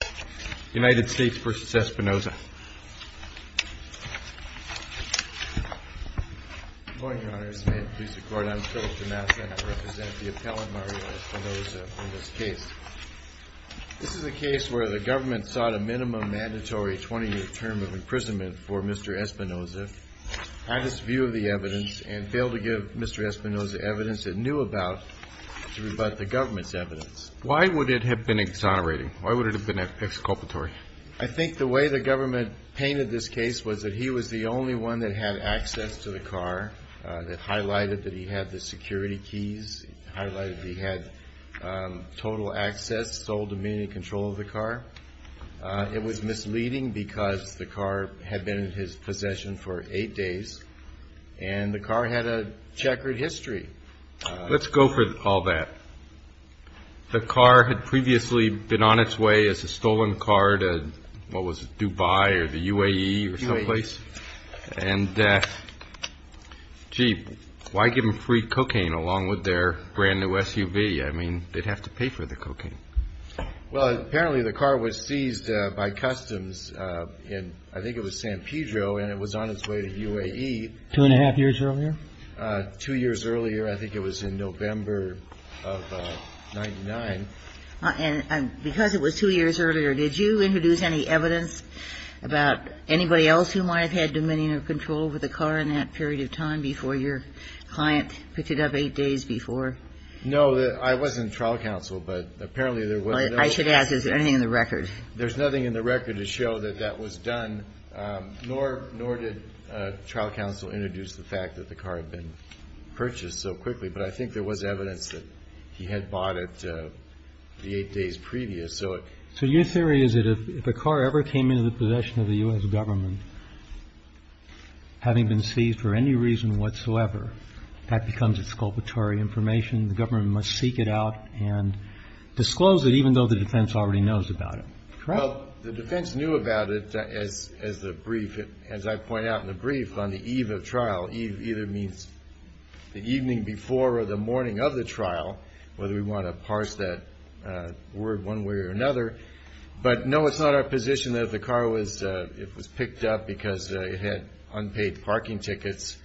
This is a case where the government sought a minimum mandatory 20-year term of imprisonment for Mr. Espinoza, had his view of the evidence, and failed to give Mr. Espinoza evidence it knew about to rebut the government's evidence. Why would it have been exonerating? Why would it have been exculpatory? I think the way the government painted this case was that he was the only one that had access to the car that highlighted that he had the security keys, highlighted he had total access, sole dominion control of the car. It was misleading because the car had been in his possession for eight days and the car had a checkered history. Let's go for all that. The car had previously been on its way as a stolen car to, what was it, Dubai or the UAE or someplace, and, gee, why give them free cocaine along with their brand new SUV? I mean, they'd have to pay for the cocaine. Well, apparently the car was seized by customs in, I think it was San Pedro, and it was on its way to UAE. Two and a half years earlier? Two years earlier. I think it was in November of 99. And because it was two years earlier, did you introduce any evidence about anybody else who might have had dominion or control over the car in that period of time before your client picked it up eight days before? No, I wasn't trial counsel, but apparently there was. I should ask, is there anything in the record? There's nothing in the record to show that that was done, nor did trial counsel introduce the fact that the car had been purchased so quickly. But I think there was evidence that he had bought it the eight days previous. So your theory is that if a car ever came into the possession of the U.S. government, having been seized for any reason whatsoever, that becomes exculpatory information. The government must seek it out and disclose it even though the defense already knows about it. Well, the defense knew about it as the brief, as I point out in the brief, on the eve of trial. Eve either means the evening before or the morning of the trial, whether we want to parse that word one way or another. But no, it's not our position that if the car was picked up because it had unpaid parking tickets,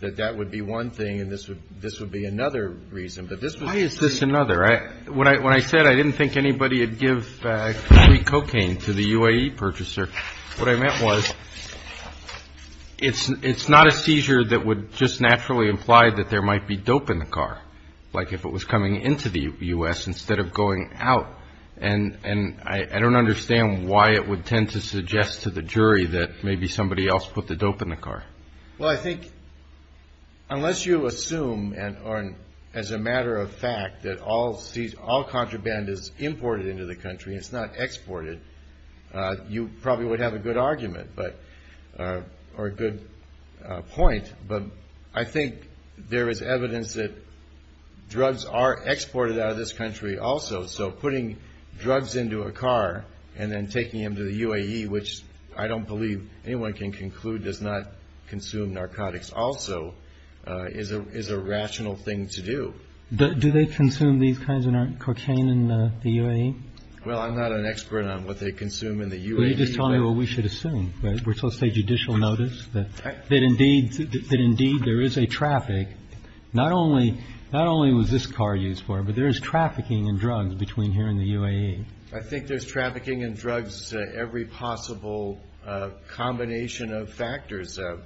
that that would be one thing. And this would be another reason. But why is this another? When I said I didn't think anybody would give free cocaine to the UAE purchaser, what I meant was it's not a seizure that would just naturally imply that there might be dope in the car, like if it was coming into the U.S. instead of going out. And I don't understand why it would tend to suggest to the jury that maybe somebody else put the dope in the car. Well, I think unless you assume as a matter of fact that all contraband is imported into the country, it's not exported, you probably would have a good argument or a good point. But I think there is evidence that drugs are exported out of this country also. So putting drugs into a car and then taking them to the UAE, which I don't believe anyone can conclude does not consume narcotics also, is a is a rational thing to do. Do they consume these kinds of cocaine in the UAE? Well, I'm not an expert on what they consume in the U.S. Just tell me what we should assume. We're supposed to say judicial notice that that indeed that indeed there is a traffic. Not only not only was this car used for, but there is trafficking and drugs between here and the UAE. I think there's trafficking and drugs, every possible combination of factors of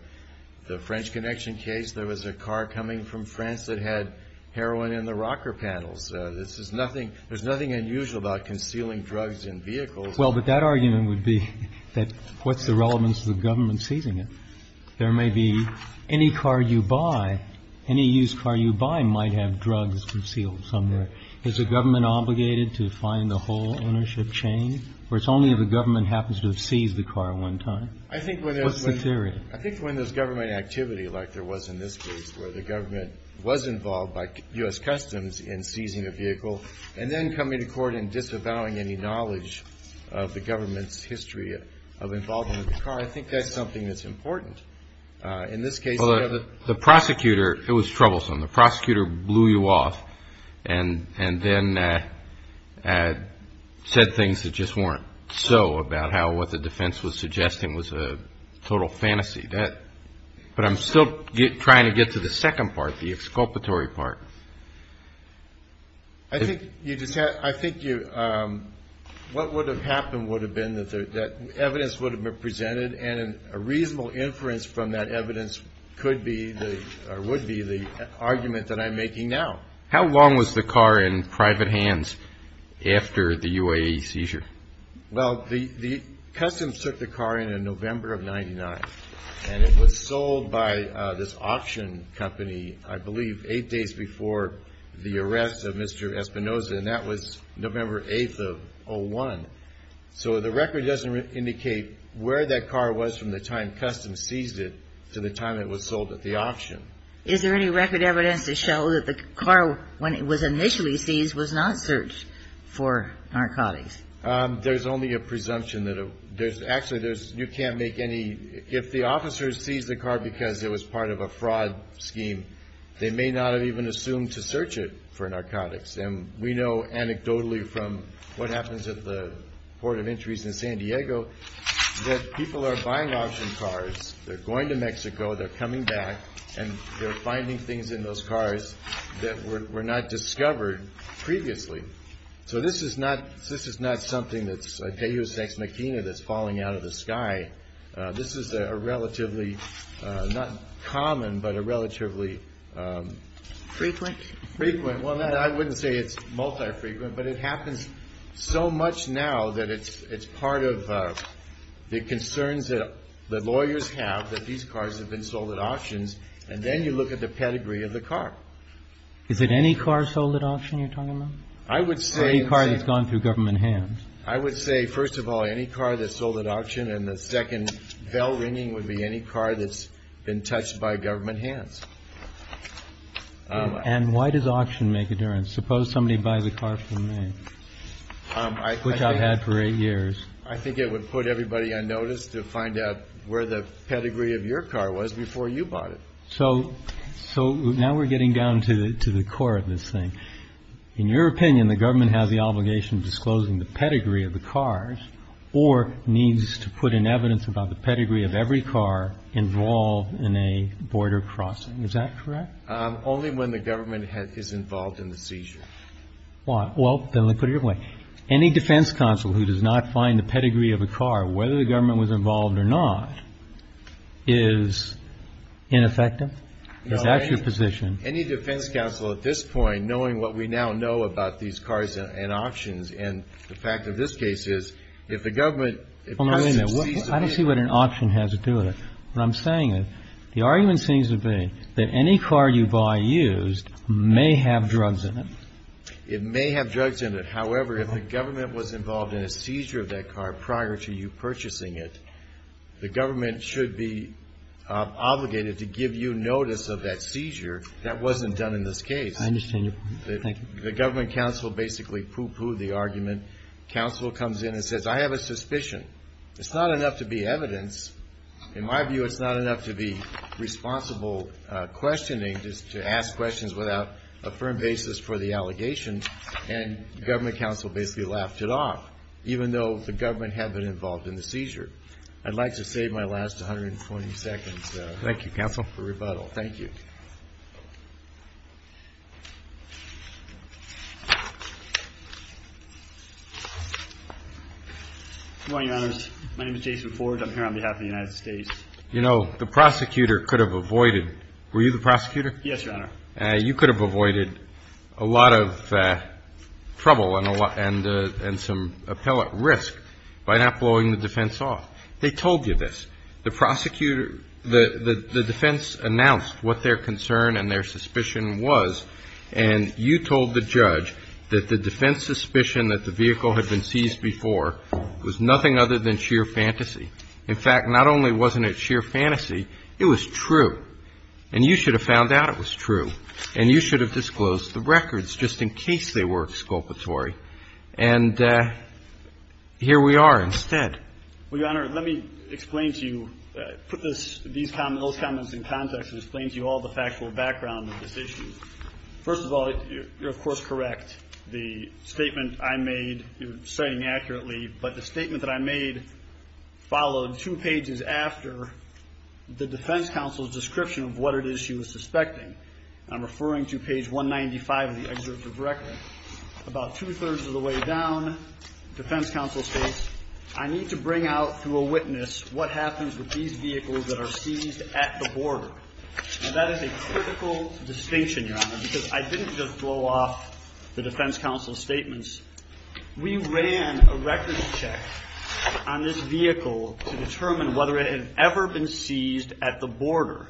the French connection case. There was a car coming from France that had heroin in the rocker panels. This is nothing. There's nothing unusual about concealing drugs in vehicles. Well, but that argument would be that what's the relevance of the government seizing it? There may be any car you buy, any used car you buy might have drugs concealed somewhere. Is the government obligated to find the whole ownership chain? Or it's only if the government happens to have seized the car one time? I think when there's a theory, I think when there's government activity like there was in this case where the government was involved by U.S. Customs in seizing a vehicle and then coming to court and disavowing any knowledge of the government's history of involving the car. I think that's something that's important. In this case, the prosecutor, it was troublesome. The prosecutor blew you off and then said things that just weren't so about how what the defense was suggesting was a total fantasy. But I'm still trying to get to the second part, the exculpatory part. I think you just had, I think you, what would have happened would have been that evidence would have been presented and a reasonable inference from that evidence could be the, or would be the argument that I'm making now. How long was the car in private hands after the UAE seizure? Well, the Customs took the car in November of 99 and it was sold by this auction company, I believe, eight days before the arrest of Mr. Espinoza. And that was November 8th of 01. So the record doesn't indicate where that car was from the time Customs seized it to the time it was sold at the auction. Is there any record evidence to show that the car, when it was initially seized, was not searched for narcotics? There's only a presumption that, there's actually, there's, you can't make any, if the officers seized the car because it was part of a fraud scheme, they may not have even assumed to search it for narcotics. And we know anecdotally from what happens at the Port of Entries in San Diego that people are buying auction cars, they're going to Mexico, they're coming back, and they're finding things in those cars that were not discovered previously. So this is not, this is not something that's a deus ex machina that's falling out of the sky. This is a relatively, not common, but a relatively frequent, well, I wouldn't say it's multi-frequent, but it happens so much now that it's part of the concerns that lawyers have that these cars have been sold at auctions. And then you look at the pedigree of the car. Is it any car sold at auction you're talking about? I would say, any car that's gone through government hands. I would say, first of all, any car that's sold at auction. And the second bell ringing would be any car that's been touched by government hands. And why does auction make a difference? Suppose somebody buys a car from me, which I've had for eight years. I think it would put everybody on notice to find out where the pedigree of your car was before you bought it. So, so now we're getting down to the, to the core of this thing. In your opinion, the government has the obligation of disclosing the pedigree of the cars or needs to put in evidence about the pedigree of every car involved in a border crossing. Is that correct? Only when the government is involved in the seizure. Why? Well, then let me put it your way. Any defense counsel who does not find the pedigree of a car, whether the government was involved or not, is ineffective. Is that your position? Any defense counsel at this point, knowing what we now know about these cars and options, and the fact of this case is if the government. I don't see what an option has to do with it. What I'm saying is the argument seems to be that any car you buy used may have drugs in it. It may have drugs in it. However, if the government was involved in a seizure of that car prior to you purchasing it, the government should be obligated to give you notice of that seizure. That wasn't done in this case. I understand your point. The government counsel basically pooh-poohed the argument. Counsel comes in and says, I have a suspicion. It's not enough to be evidence. In my view, it's not enough to be responsible questioning, just to ask questions without a firm basis for the allegation. And government counsel basically laughed it off, even though the government had been involved in the seizure. I'd like to save my last 120 seconds for rebuttal. Thank you. Your Honor, my name is Jason Ford. I'm here on behalf of the United States. You know, the prosecutor could have avoided, were you the prosecutor? Yes, Your Honor. You could have avoided a lot of trouble and some appellate risk by not blowing the defense off. They told you this. The prosecutor, the defense announced what their concern and their suspicion was. And you told the judge that the defense suspicion that the vehicle had been seized before was nothing other than sheer fantasy. In fact, not only wasn't it sheer fantasy, it was true. And you should have found out it was true. And you should have disclosed the records just in case they were exculpatory. And here we are instead. Well, Your Honor, let me explain to you, put those comments in context and explain to you all the factual background of this issue. First of all, you're of course correct. The statement I made, you're citing accurately, but the statement that I made followed two pages after the defense counsel's description of what it is she was suspecting. I'm referring to page 195 of the excerpt of record. About two-thirds of the way down, defense counsel states, I need to bring out to a witness what happens with these vehicles that are seized at the border. That is a critical distinction, Your Honor, because I didn't just blow off the defense counsel's statements. We ran a records check on this vehicle to determine whether it had ever been seized at the border.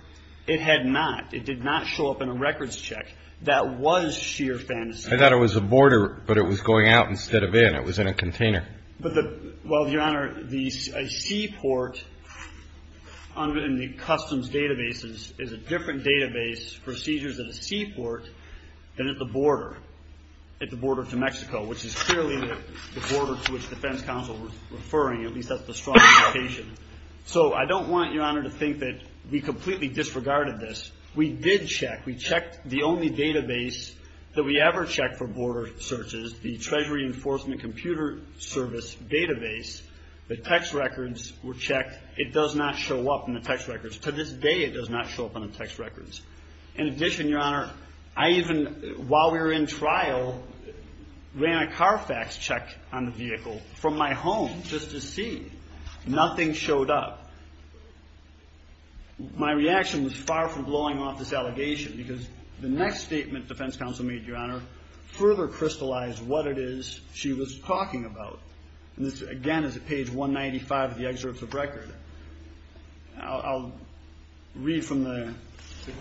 It had not. It did not show up in a records check. That was sheer fantasy. I thought it was a border, but it was going out instead of in. It was in a container. But the, well, Your Honor, the seaport in the customs databases is a different database for seizures at a seaport than at the border. At the border to Mexico, which is clearly the border to which defense counsel was referring. At least that's the strong indication. So I don't want Your Honor to think that we completely disregarded this. We did check. We checked the only database that we ever checked for border searches, the Treasury Enforcement Computer Service database. The text records were checked. It does not show up in the text records. To this day, it does not show up on the text records. In addition, Your Honor, I even, while we were in trial, ran a Carfax check on the vehicle from my home just to see. Nothing showed up. My reaction was far from blowing off this allegation. Because the next statement defense counsel made, Your Honor, further crystallized what it is she was talking about. And this, again, is at page 195 of the excerpts of record. I'll read from the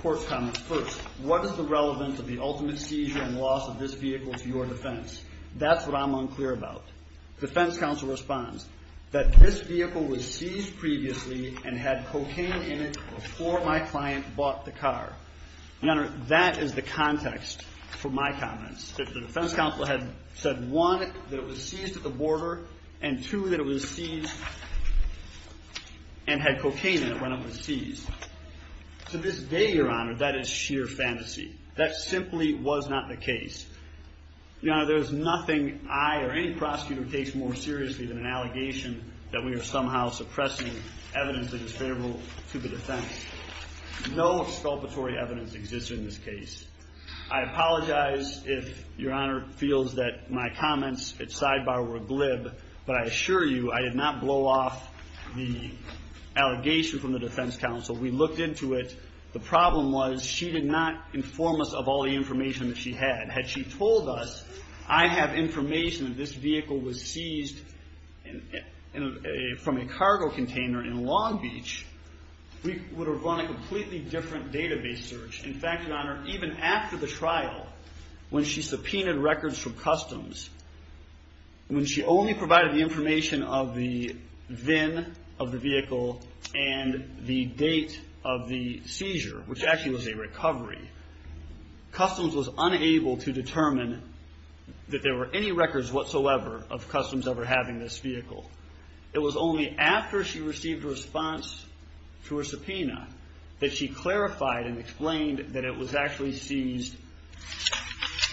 court's comments first. What is the relevance of the ultimate seizure and loss of this vehicle to your defense? That's what I'm unclear about. Defense counsel responds that this vehicle was seized previously and had cocaine in it before my client bought the car. Your Honor, that is the context for my comments. That the defense counsel had said, one, that it was seized at the border, and two, that it was seized and had cocaine in it when it was seized. To this day, Your Honor, that is sheer fantasy. That simply was not the case. Your Honor, there is nothing I or any prosecutor takes more seriously than an allegation that we are somehow suppressing evidence that is favorable to the defense. No exculpatory evidence exists in this case. I apologize if Your Honor feels that my comments at sidebar were glib, but I assure you, I did not blow off the allegation from the defense counsel. We looked into it. The problem was, she did not inform us of all the information that she had. Had she told us, I have information that this vehicle was seized from a cargo container in Long Beach, we would have run a completely different database search. In fact, Your Honor, even after the trial, when she subpoenaed records from Customs, when she only provided the information of the VIN of the vehicle and the date of the seizure, which actually was a recovery, Customs was unable to determine that there were any records whatsoever of Customs ever having this vehicle. It was only after she received a response to her subpoena that she clarified and explained that it was actually seized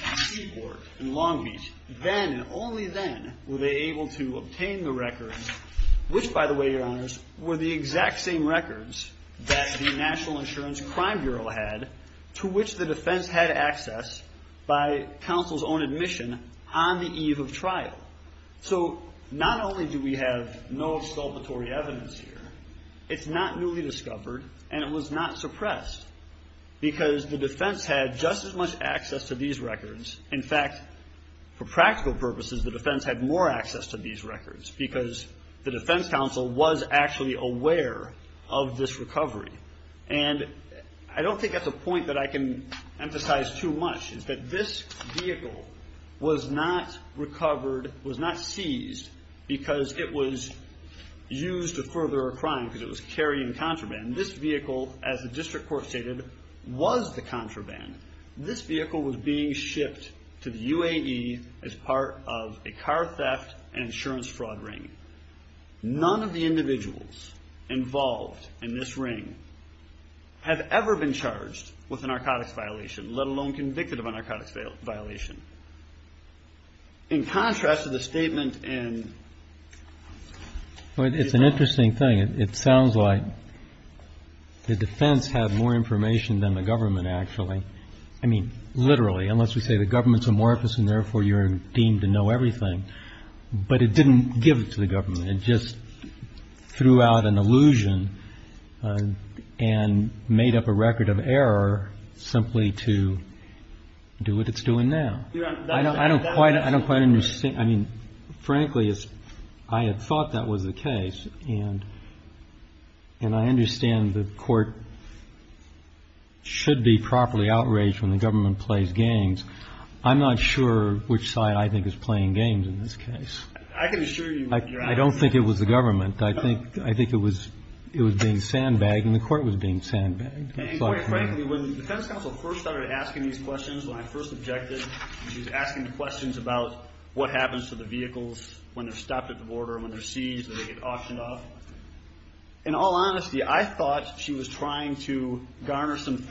at a seaport in Long Beach. Then, and only then, were they able to obtain the records, which by the way, Your Honors, were the exact same records that the National Insurance Crime Bureau had, to which the defense had access by counsel's own admission on the eve of trial. So, not only do we have no exculpatory evidence here, it's not newly discovered and it was not suppressed because the defense had just as much access to these records. In fact, for practical purposes, the defense had more access to these records because the defense counsel was actually aware of this recovery. And I don't think that's a point that I can emphasize too much, is that this vehicle was not recovered, was not seized, because it was used to further a crime, because it was carrying contraband. This vehicle, as the district court stated, was the contraband. This vehicle was being shipped to the UAE as part of a car theft and insurance fraud ring. None of the individuals involved in this ring have ever been charged with a narcotics violation, let alone convicted of a narcotics violation. In contrast to the statement in- Well, it's an interesting thing. It sounds like the defense had more information than the government, actually. I mean, literally, unless we say the government's amorphous and therefore you're deemed to know everything. But it didn't give it to the government. It just threw out an illusion and made up a record of error simply to do what it's doing now. I don't quite understand. I mean, frankly, I had thought that was the case. And I understand the court should be properly outraged when the government plays games. I'm not sure which side, I think, is playing games in this case. I can assure you- I don't think it was the government. I think it was being sandbagged, and the court was being sandbagged. And quite frankly, when the defense counsel first started asking these questions, when I first objected, and she was asking the questions about what happens to the vehicles when they're stopped at the border and when they're seized and they get auctioned off, in all honesty, I thought she was trying to garner some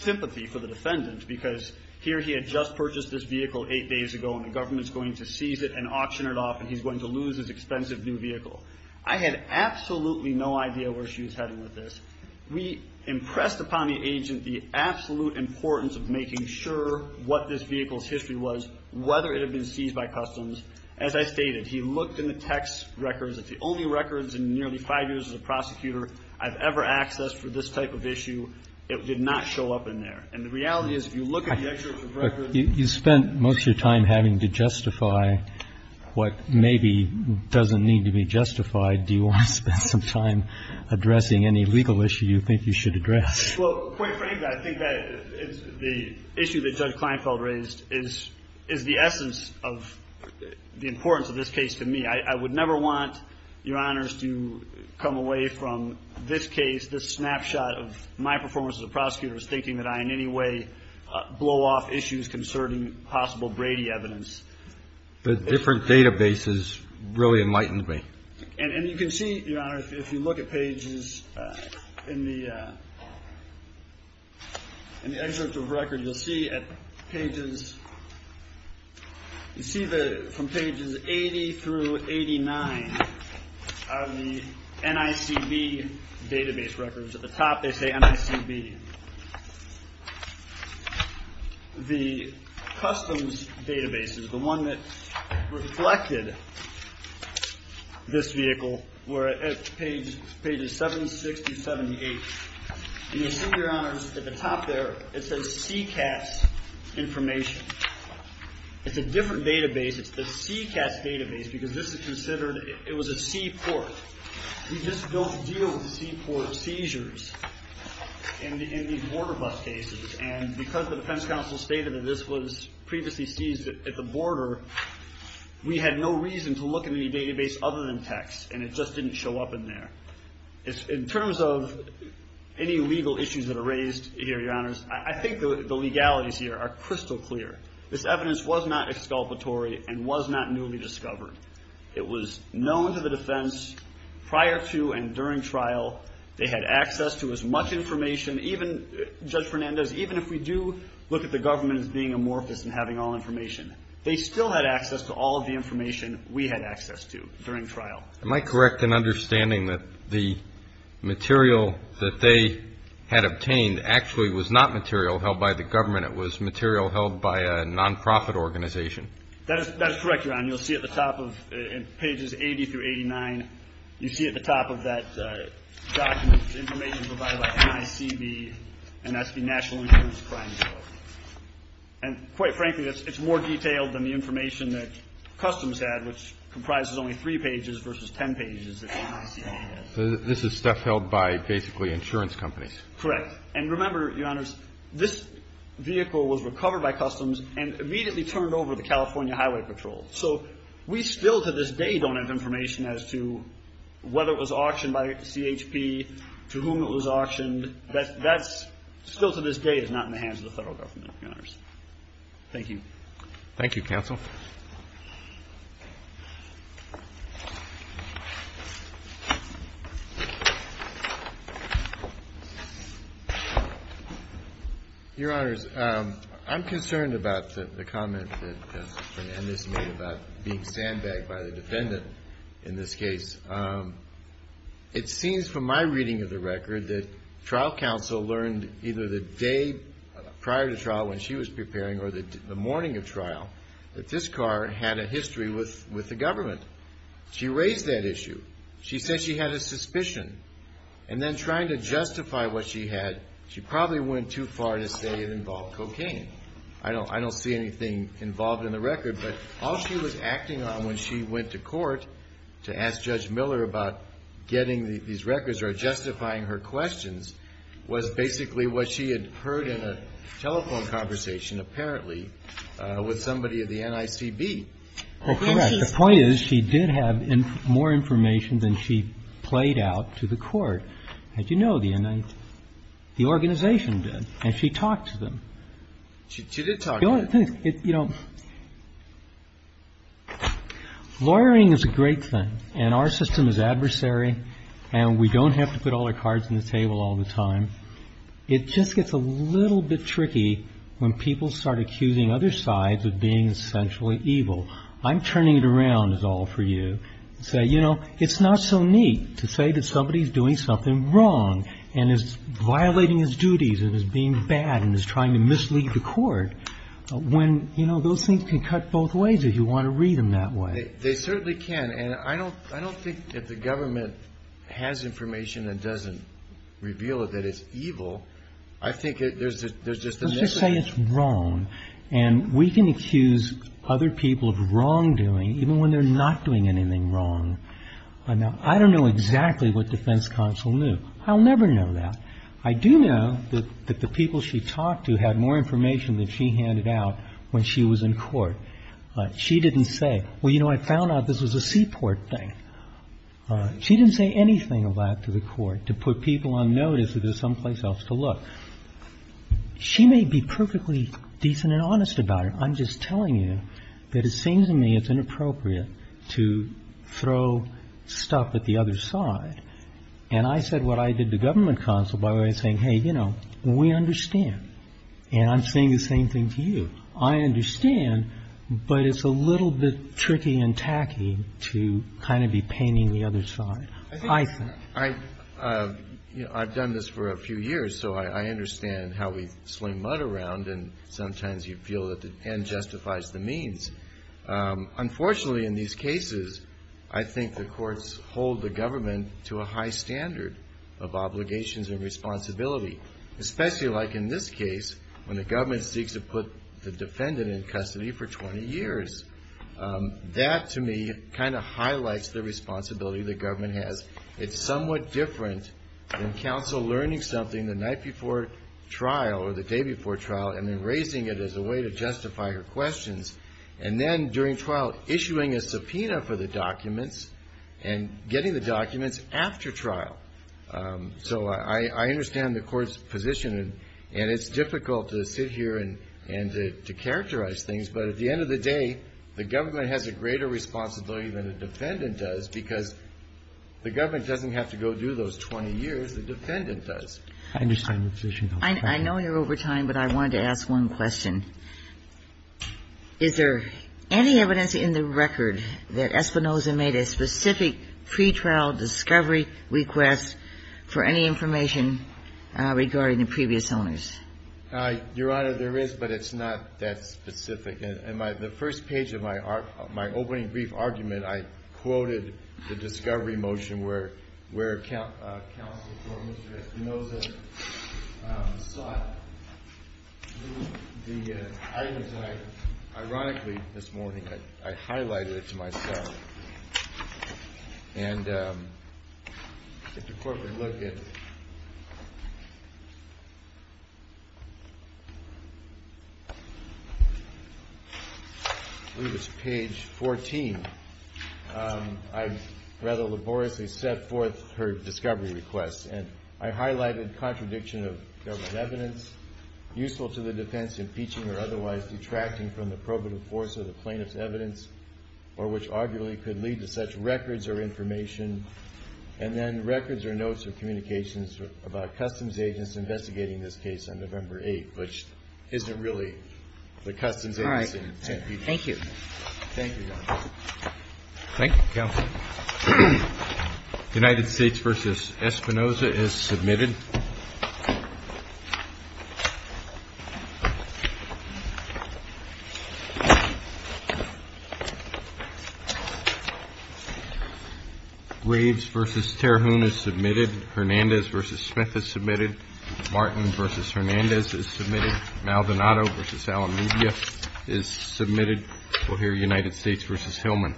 sympathy for the defendant. Because here he had just purchased this vehicle eight days ago, and the government's going to seize it and auction it off, and he's going to lose his expensive new vehicle. I had absolutely no idea where she was heading with this. We impressed upon the agent the absolute importance of making sure what this vehicle's history was, whether it had been seized by customs. As I stated, he looked in the text records. It's the only records in nearly five years as a prosecutor I've ever accessed for this type of issue. It did not show up in there. And the reality is, if you look at the excerpts of records. You spent most of your time having to justify what maybe doesn't need to be justified. Do you want to spend some time addressing any legal issue you think you should address? Well, quite frankly, I think that the issue that Judge Kleinfeld raised is the essence of the importance of this case to me. I would never want, Your Honors, to come away from this case, this snapshot of my performance as a prosecutor, as thinking that I in any way blow off issues concerning possible Brady evidence. The different databases really enlightened me. And you can see, Your Honor, if you look at pages in the excerpts of records. You'll see from pages 80 through 89 are the NICB database records. At the top, they say NICB. The customs databases, the one that reflected this vehicle, were at pages 7, 6, to 78. And you'll see, Your Honors, at the top there, it says CCAS information. It's a different database. It's the CCAS database because this is considered, it was a seaport. We just don't deal with seaport seizures in these border bus cases. And because the defense counsel stated that this was previously seized at the border, we had no reason to look in any database other than text. And it just didn't show up in there. In terms of any legal issues that are raised here, Your Honors, I think the legalities here are crystal clear. This evidence was not exculpatory and was not newly discovered. It was known to the defense prior to and during trial. They had access to as much information, even, Judge Fernandez, even if we do look at the government as being amorphous and having all information. They still had access to all of the information we had access to during trial. Am I correct in understanding that the material that they had obtained actually was not material held by the government? It was material held by a non-profit organization? That is correct, Your Honor. You'll see at the top of, in pages 80 through 89, you see at the top of that document information provided by NICB, and that's the National Injury and Crime Council. And quite frankly, it's more detailed than the information that Customs had, which comprises only three pages versus 10 pages that the NICB has. So this is stuff held by basically insurance companies? And remember, Your Honors, this vehicle was recovered by Customs and immediately turned over to the California Highway Patrol. So we still to this day don't have information as to whether it was auctioned by CHP, to whom it was auctioned. That's still to this day is not in the hands of the federal government, Your Honors. Thank you. Thank you, Counsel. Your Honors, I'm concerned about the comment that Ms. Fernandez made about being sandbagged by the defendant in this case. It seems from my reading of the record that trial counsel learned either the day prior to trial when she was preparing or the morning of trial that this car had a history with the government. She raised that issue. She said she had a suspicion. And then trying to justify what she had, she probably went too far to say it involved cocaine. I don't see anything involved in the record. But all she was acting on when she went to court to ask Judge Miller about getting these records or justifying her questions was basically what she had heard in a telephone conversation, apparently, with somebody at the NICB. Well, correct. The point is she did have more information than she played out to the court. As you know, the organization did. And she talked to them. She did talk to them. You know, lawyering is a great thing. And our system is adversary. And we don't have to put all our cards on the table all the time. It just gets a little bit tricky when people start accusing other sides of being essentially evil. I'm turning it around is all for you. So, you know, it's not so neat to say that somebody is doing something wrong and is violating his duties and is being bad and is trying to mislead the court when, you know, those things can cut both ways if you want to read them that way. They certainly can. And I don't I don't think that the government has information that doesn't reveal that it's evil. I think there's there's just a mistake. It's wrong. And we can accuse other people of wrongdoing even when they're not doing anything wrong. And I don't know exactly what defense counsel knew. I'll never know that. I do know that the people she talked to had more information than she handed out when she was in court. She didn't say, well, you know, I found out this was a seaport thing. She didn't say anything of that to the court to put people on notice that there's someplace else to look. She may be perfectly decent and honest about it. I'm just telling you that it seems to me it's inappropriate to throw stuff at the other side. And I said what I did to government counsel by saying, hey, you know, we understand. And I'm saying the same thing to you. I understand, but it's a little bit tricky and tacky to kind of be painting the other side, I think. I've done this for a few years, so I understand how we swing mud around. And sometimes you feel that the end justifies the means. Unfortunately, in these cases, I think the courts hold the government to a high standard of obligations and responsibility, especially like in this case when the government seeks to put the defendant in custody for 20 years. That, to me, kind of highlights the responsibility the government has. It's somewhat different than counsel learning something the night before trial or the day before trial and then raising it as a way to justify her questions. And then during trial, issuing a subpoena for the documents and getting the documents after trial. So I understand the court's position, and it's difficult to sit here and to characterize things. But at the end of the day, the government has a greater responsibility than the defendant does because the government doesn't have to go do those 20 years. The defendant does. I understand the position. I know you're over time, but I wanted to ask one question. Is there any evidence in the record that Espinoza made a specific pretrial discovery request for any information regarding the previous owners? Your Honor, there is, but it's not that specific. In the first page of my opening brief argument, I quoted the discovery motion where counsel for Mr. Espinoza sought the items that I, ironically, this morning, I highlighted to myself. And if the court would look at page 14, I rather laboriously set forth her discovery request. And I highlighted contradiction of government evidence useful to the defense impeaching or otherwise detracting from the probative force of the plaintiff's evidence or which arguably could lead to such records or information, and then records or notes of communications about customs agents investigating this case on November 8, which isn't really the customs agency. All right. Thank you. Thank you, Your Honor. Thank you, counsel. United States v. Espinoza is submitted. Graves v. Terhune is submitted. Hernandez v. Smith is submitted. Martin v. Hernandez is submitted. Maldonado v. Alameda is submitted. We'll hear United States v. Hillman.